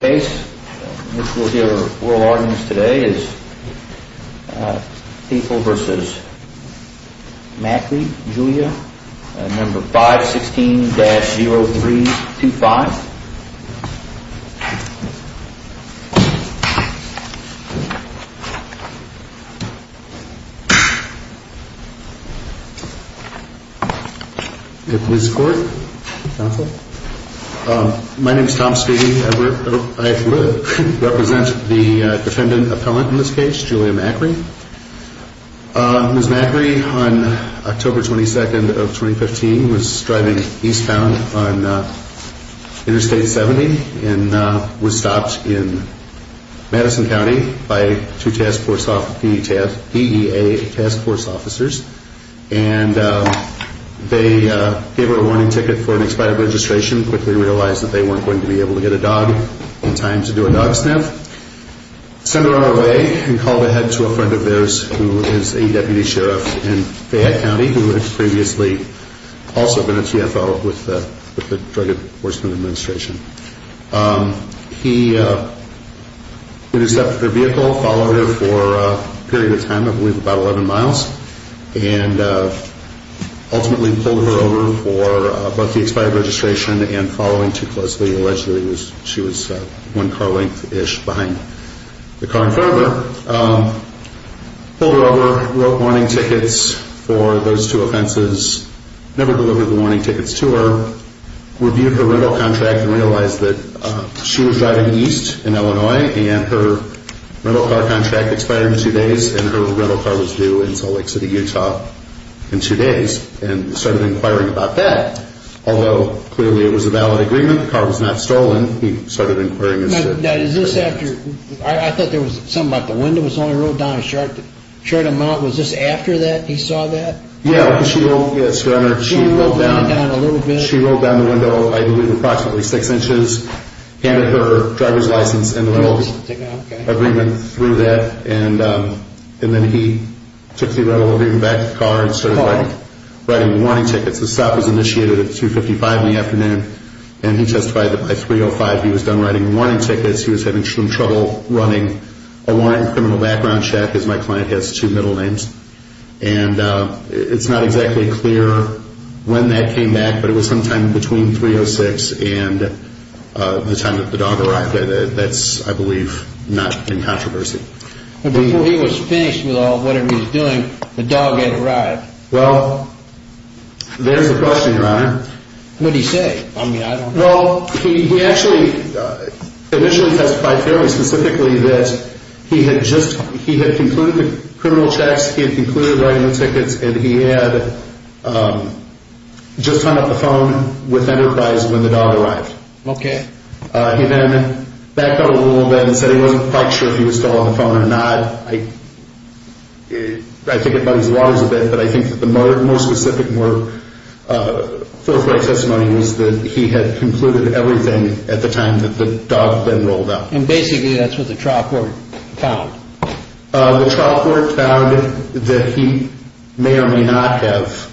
v. Julia, 516-0325. My name is Tom Speedy. I represent the defendant appellant in this case, Julia Macri. Ms. Macri on October 22nd of 2015 was driving eastbound on Interstate 70 and was stopped in Madison County by two DEA task force officers and they gave her a warning ticket for an expired registration, quickly realized that they weren't going to be able to get a dog in time to do a dog sniff. Sent her on her way and called ahead to a friend of theirs who is a deputy sheriff in Fayette County who had previously also been a TFO with the Drug Enforcement Administration. He intercepted their vehicle, followed her for a period of time, I believe about 11 miles and ultimately pulled her over for both the expired registration and following too closely, allegedly she was one car length-ish behind the car in front of her. Pulled her over, wrote warning tickets for those two offenses, never delivered the warning tickets to her, reviewed her rental contract and realized that she was driving east in Illinois and her rental car contract expired in two days and her rental car was due in Salt Lake City, Utah in two days and started inquiring about that. Although clearly it was a valid agreement, the car was not stolen, he started inquiring. I thought there was something about the window was only rolled down a short amount, was this after that he saw that? Yeah, she rolled down the window I believe approximately six inches, handed her driver's license and the rental agreement through that and then he took the rental agreement back to the car and started writing warning tickets. The stop was initiated at 2.55 in the afternoon and he testified that by 3.05 he was done writing warning tickets, he was having some trouble running a warrant for a criminal background check because my client has two middle names and it's not exactly clear when that came back but it was sometime between 3.06 and the time that the dog arrived, that's I believe not in controversy. Before he was finished with all of what he was doing, the dog had arrived. Well, there's a question your honor. What did he say? Well, he actually initially testified fairly specifically that he had just concluded the criminal checks, he had concluded writing the tickets and he had just hung up the phone with Enterprise when the dog arrived. Okay. He then backed up a little bit and said he wasn't quite sure if he was still on the phone or not. I think it bugs me that he had concluded everything at the time that the dog had been rolled up. And basically that's what the trial court found? The trial court found that he may or may not have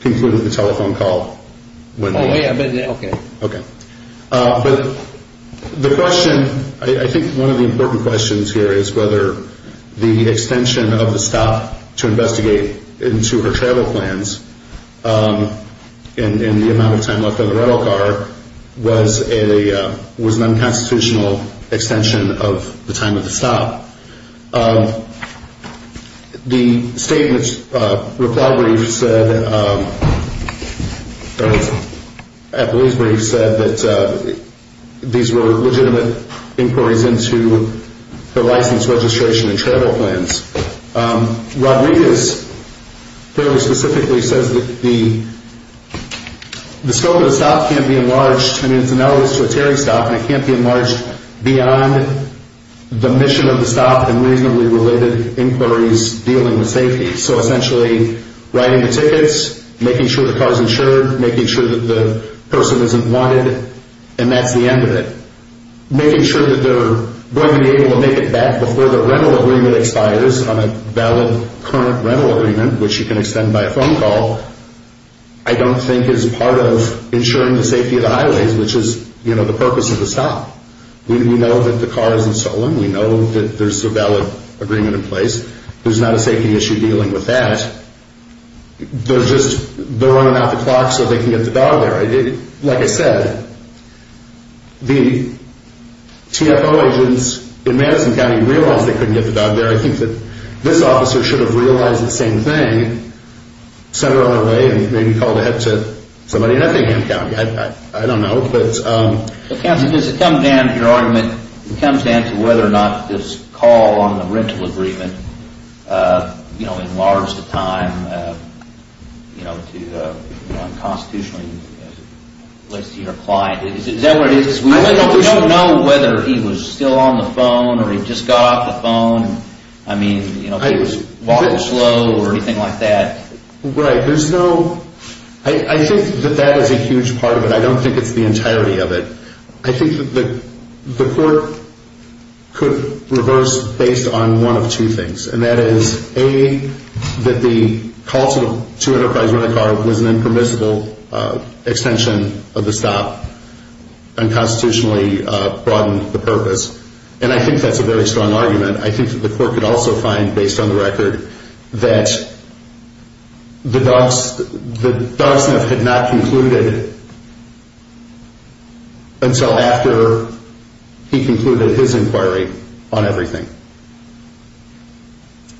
concluded the telephone call. Okay. But the question, I think one of the important questions here is whether the extension of the stop to investigate into her travel plans and the amount of time left on the rental car was an unconstitutional extension of the time of the stop. The statement's reply brief said, I believe's brief said that these were legitimate inquiries into her license, registration and travel plans. Rodriguez fairly specifically says that the scope of the stop can't be enlarged, I mean it's analogous to a Terry stop, and it can't be enlarged beyond the mission of the stop and reasonably related inquiries dealing with safety. So essentially writing the tickets, making sure the car's insured, making sure that the person isn't wanted, and that's the end of it. Making sure that they're going to be able to make it back before the rental agreement expires on a valid current rental agreement, which you can extend by a phone call, I don't think is part of ensuring the safety of the highways, which is the purpose of the stop. We know that the car isn't stolen. We know that there's a valid agreement in place. There's not a safety issue dealing with that. They're running out the clock so they can get the dog there. Like I said, the TFO agents in Madison County realized they couldn't get the dog there. I think that this officer should have realized the same thing, sent her on her way, and maybe called ahead to somebody in other county. I don't know, but... Counsel, does it come down to your argument, it comes down to whether or not this call on the rental agreement, you know, enlarged the time, you know, to unconstitutionally list your client. Is that what it is? We don't know whether he was still on the phone or he just got off the phone. I mean, you know, walking slow or anything like that. Right. There's no... I think that that is a huge part of it. I don't think it's the entirety of it. I think that the court could reverse based on one of two things, and that is, A, that the call to Enterprise Rent-A-Car was an impermissible extension of the stop, unconstitutionally broadened the purpose. And I think that's a very strong argument. I think that the court could also find, based on the record, that the dog sniff had not concluded until after he concluded his inquiry on everything.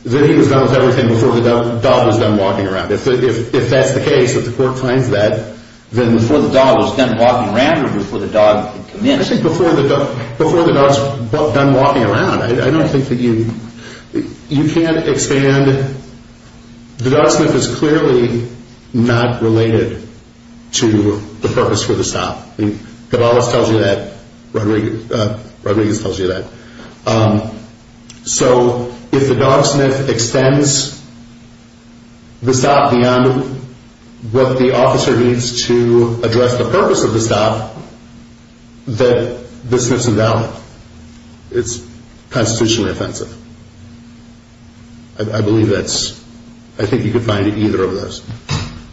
That he was done with everything before the dog was done walking around. If that's the case, if the court finds that, then before the dog was done walking around or before the dog could come in? I think before the dog's done walking around. I don't think that you... You can't expand... The dog sniff is clearly not related to the purpose for the stop. I mean, Cabalas tells you that. Rodriguez tells you that. So, if the dog sniff extends the stop beyond what the officer needs to address the purpose of the stop, that the sniff's invalid. It's constitutionally offensive. I believe that's... I think you could find either of those.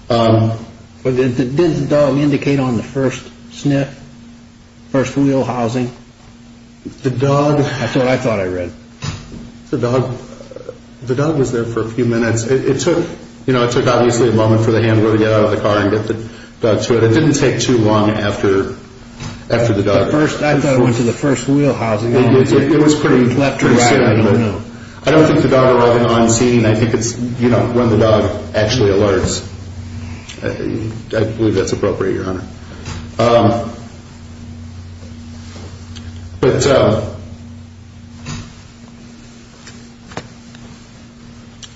But did the dog indicate on the first sniff, first wheel housing? The dog... That's what I thought I read. The dog... The dog was there for a few minutes. It took, you know, it took obviously a moment for the handler to get out of the car and get the dog to it. It didn't take too long after the dog... I thought it went to the first wheel housing. It was pretty... Left or right, I don't know. I don't think the dog arrived on scene. I think it's, you know, when the dog actually alerts. I believe that's appropriate, Your Honor. But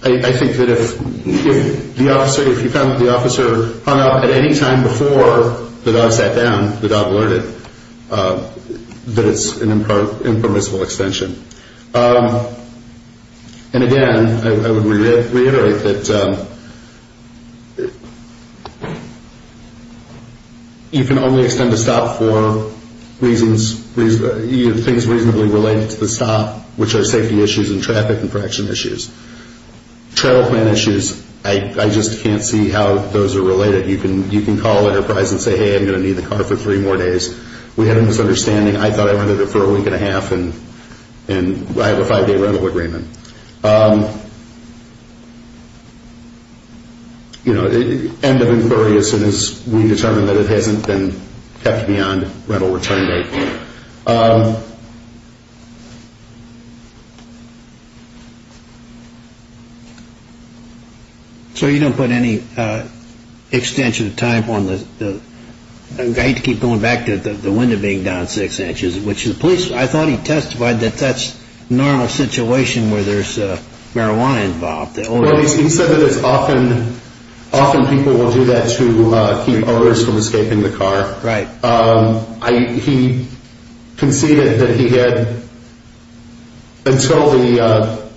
I think that if the officer, if you found that the officer hung up at any time before the dog sat down, the dog alerted, that it's an impermissible extension. And again, I would reiterate that you can only extend a stop for things reasonably related to the stop, which are safety issues and traffic and protection issues. Travel plan issues, I just can't see how those are related. You can call Enterprise and say, hey, I'm going to need the car for three more days. We have a misunderstanding. I mean, I thought I rented it for a week and a half, and I have a five-day rental agreement. You know, end of inquiry as soon as we determine that it hasn't been kept beyond rental return date. So you don't put any extension of time on the, I hate to keep going back to the window being down six inches, which the police, I thought he testified that that's a normal situation where there's marijuana involved. Well, he said that it's often, often people will do that to keep owners from escaping the car. Right. He conceded that he had, until the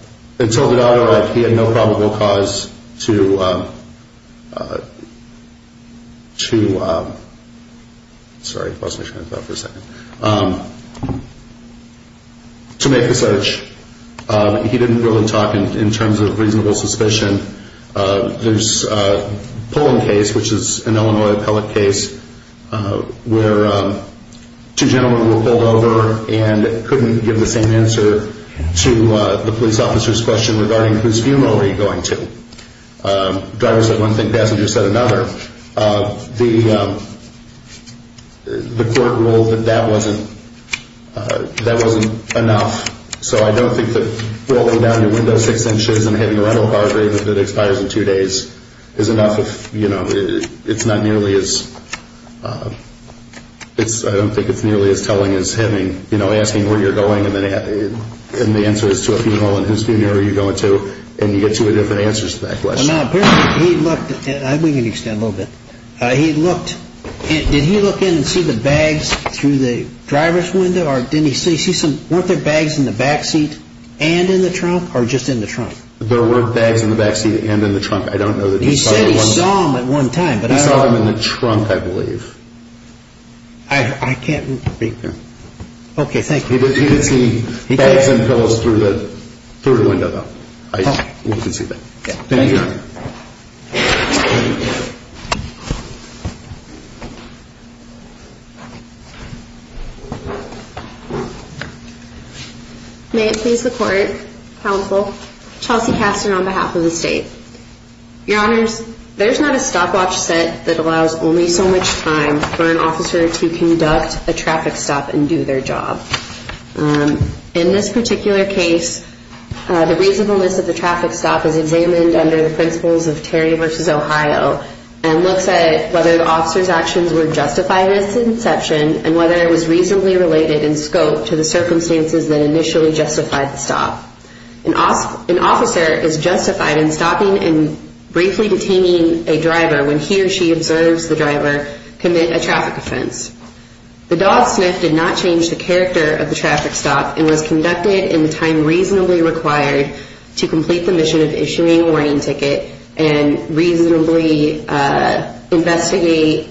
data arrived, he had no probable cause to make the search. He didn't really talk in terms of reasonable suspicion. There's a Poland case, which is an Illinois appellate case, where two gentlemen were pulled over and couldn't give the same answer to the police officer's question regarding whose funeral are you going to? Driver said one thing, passenger said another. The court ruled that that wasn't enough. So I don't think that rolling down your window six inches and having a rental car agreement that expires in two days is enough if, you know, it's not nearly as, I don't think it's nearly as telling as having, you know, asking where you're going and the answer is to a funeral and whose funeral are you going to, and you get two different answers to that question. Well, now, apparently he looked, and we can extend a little bit. He looked, did he look in and see the bags through the driver's window? Weren't there bags in the back seat and in the trunk or just in the trunk? There weren't bags in the back seat and in the trunk. I don't know that he saw them. He said he saw them at one time, but I don't know. He saw them in the trunk, I believe. I can't read there. Okay, thank you. He did see bags and pillows through the window, though. We can see that. Thank you, Your Honor. Thank you. May it please the Court, Counsel, Chelsea Kastner on behalf of the State. Your Honors, there's not a stopwatch set that allows only so much time for an officer to conduct a traffic stop and do their job. In this particular case, the reasonableness of the traffic stop is examined under the principles of Terry v. Ohio and looks at whether the officer's actions were justified at its inception and whether it was reasonably related in scope to the circumstances that initially justified the stop. An officer is justified in stopping and briefly detaining a driver when he or she observes the driver commit a traffic offense. The dog sniff did not change the character of the traffic stop and was conducted in the time reasonably required to complete the mission of issuing a warning ticket and reasonably investigate,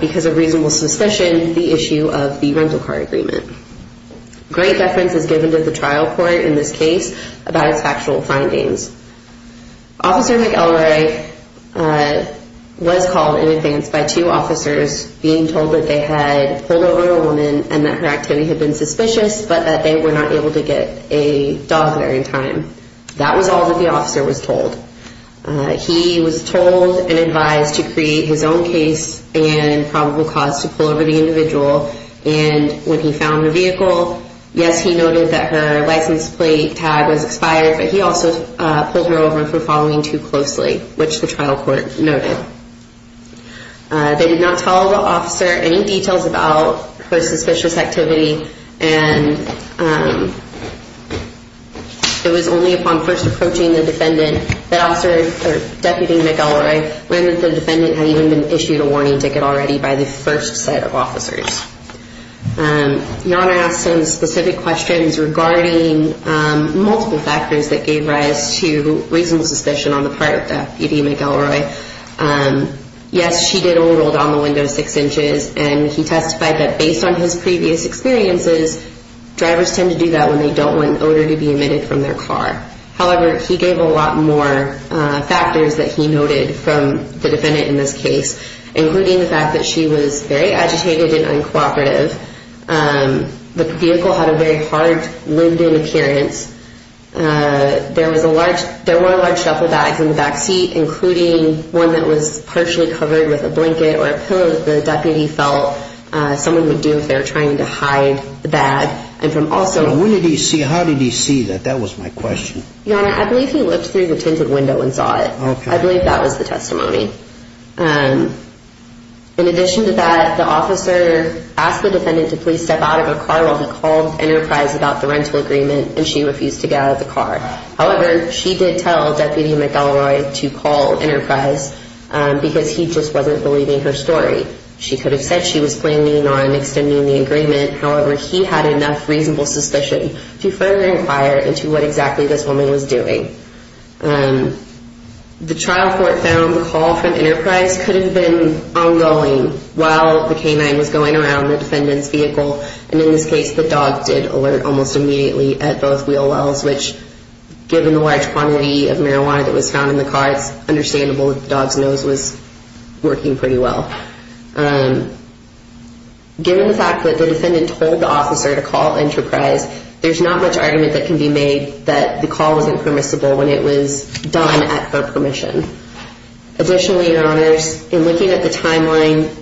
because of reasonable suspicion, the issue of the rental car agreement. Great deference is given to the trial court in this case about its factual findings. Officer McElroy was called in advance by two officers being told that they had pulled over a woman and that her activity had been suspicious but that they were not able to get a dog there in time. That was all that the officer was told. He was told and advised to create his own case and probable cause to pull over the individual and when he found the vehicle, yes, he noted that her license plate tag was expired but he also pulled her over for following too closely, which the trial court noted. They did not tell the officer any details about her suspicious activity and it was only upon first approaching the defendant that Deputy McElroy learned that the defendant had even been issued a warning ticket already by the first set of officers. Your Honor asked him specific questions regarding multiple factors that gave rise to reasonable suspicion on the part of Deputy McElroy. Yes, she did overrode on the window six inches and he testified that based on his previous experiences, drivers tend to do that when they don't want odor to be emitted from their car. However, he gave a lot more factors that he noted from the defendant in this case, including the fact that she was very agitated and uncooperative. The vehicle had a very hard, winded appearance. There were large shuffle bags in the back seat, including one that was partially covered with a blanket or a pillow that the deputy felt someone would do if they were trying to hide the bag. How did he see that? That was my question. Your Honor, I believe he looked through the tinted window and saw it. I believe that was the testimony. In addition to that, the officer asked the defendant to please step out of her car while he called Enterprise about the rental agreement and she refused to get out of the car. However, she did tell Deputy McElroy to call Enterprise because he just wasn't believing her story. She could have said she was planning on extending the agreement. However, he had enough reasonable suspicion to further inquire into what exactly this woman was doing. The trial court found the call from Enterprise could have been ongoing while the canine was going around the defendant's vehicle. And in this case, the dog did alert almost immediately at both wheel wells, which given the large quantity of marijuana that was found in the car, it's understandable that the dog's nose was working pretty well. Given the fact that the defendant told the officer to call Enterprise, there's not much argument that can be made that the call wasn't permissible when it was done at her permission. Additionally, your honors, in looking at the timeline,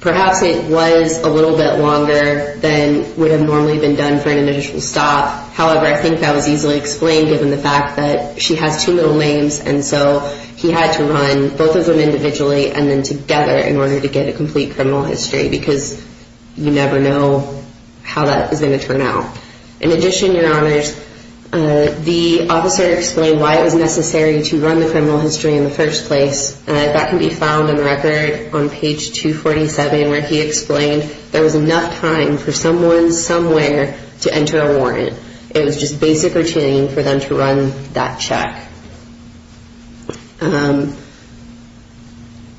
perhaps it was a little bit longer than would have normally been done for an initial stop. However, I think that was easily explained given the fact that she has two middle names and so he had to run both of them individually and then together in order to get a complete criminal history because you never know how that is going to turn out. In addition, your honors, the officer explained why it was necessary to run the criminal history in the first place. That can be found in the record on page 247 where he explained there was enough time for someone somewhere to enter a warrant. It was just basic routine for them to run that check.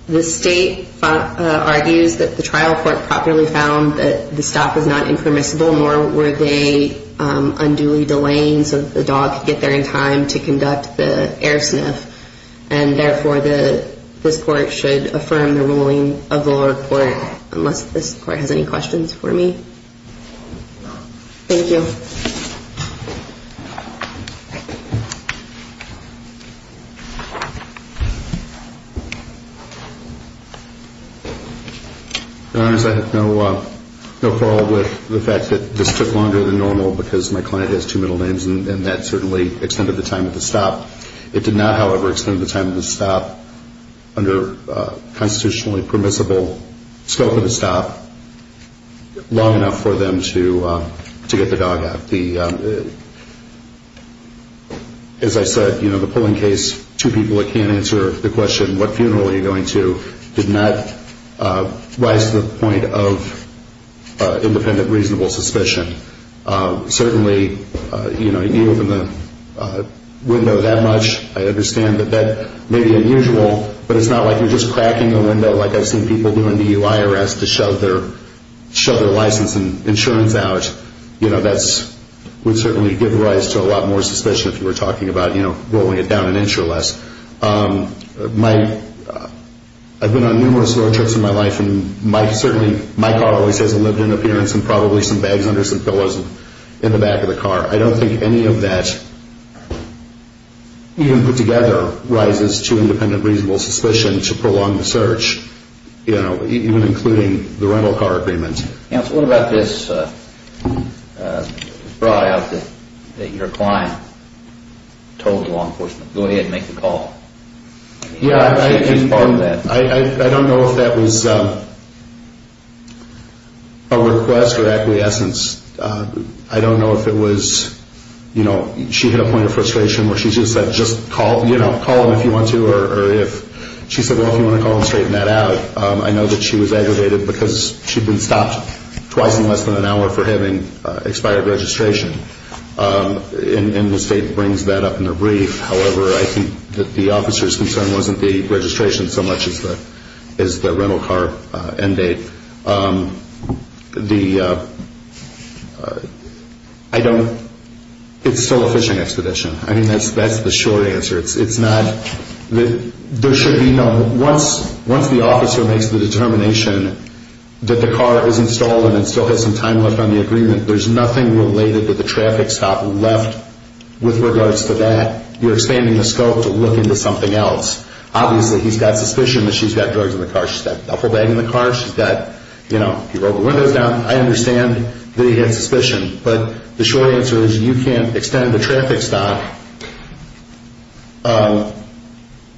The state argues that the trial court properly found that the stop was not impermissible nor were they unduly delaying so that the dog could get there in time to conduct the air sniff. Therefore, this court should affirm the ruling of the lower court unless this court has any questions for me. Thank you. Your honors, I have no quarrel with the fact that this took longer than normal because my client has two middle names and that certainly extended the time of the stop. It did not, however, extend the time of the stop under constitutionally permissible scope of the stop long enough for them to get the dog out. As I said, the polling case, two people that can't answer the question what funeral are you going to, did not rise to the point of independent reasonable suspicion. Certainly, you open the window that much, I understand that that may be unusual, but it's not like you're just cracking the window like I've seen people do in the UIRS to shove their license and insurance out. That would certainly give rise to a lot more suspicion if you were talking about rolling it down an inch or less. I've been on numerous road trips in my life and certainly my car always has a lived-in appearance and probably some bags under some pillows in the back of the car. I don't think any of that, even put together, rises to independent reasonable suspicion to prolong the search, even including the rental car agreement. What about this bribe that your client told the law enforcement, go ahead and make the call? Yeah, I don't know if that was a request or acquiescence. I don't know if it was, you know, she hit a point of frustration where she just said just call, you know, call them if you want to or if she said, well, if you want to call them, straighten that out. I know that she was aggravated because she'd been stopped twice in less than an hour for having expired registration. And the state brings that up in their brief. However, I think that the officer's concern wasn't the registration so much as the rental car end date. The, I don't, it's still a fishing expedition. I mean, that's the short answer. It's not, there should be no, once the officer makes the determination that the car is installed and it still has some time left on the agreement, there's nothing related to the traffic stop left with regards to that. You're expanding the scope to look into something else. Obviously, he's got suspicion that she's got drugs in the car. She's got a whole bag in the car. She's got, you know, if you roll the windows down, I understand that he had suspicion. But the short answer is you can't extend the traffic stop.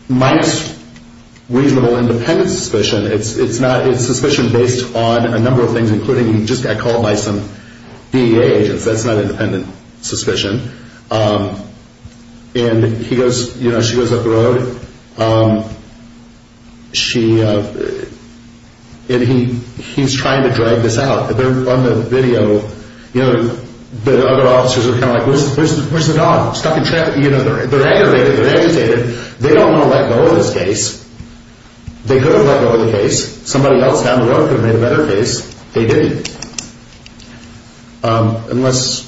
Mike's reasonable independent suspicion, it's not, it's suspicion based on a number of things, including he just got called by some DEA agents. That's not independent suspicion. And he goes, you know, she goes up the road. She, and he's trying to drag this out. On the video, you know, the other officers are kind of like, where's the dog? Stuck in traffic. You know, they're aggravated, they're agitated. They don't want to let go of this case. They could have let go of the case. Somebody else down the road could have made a better case. They didn't. Unless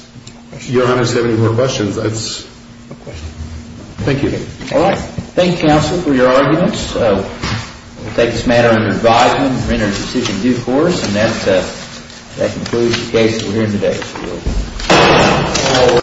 your honors have any more questions, that's. No questions. Thank you. All right. Thank you, counsel, for your arguments. We'll take this matter under advisement and render a decision due course. And that concludes the case that we're hearing today.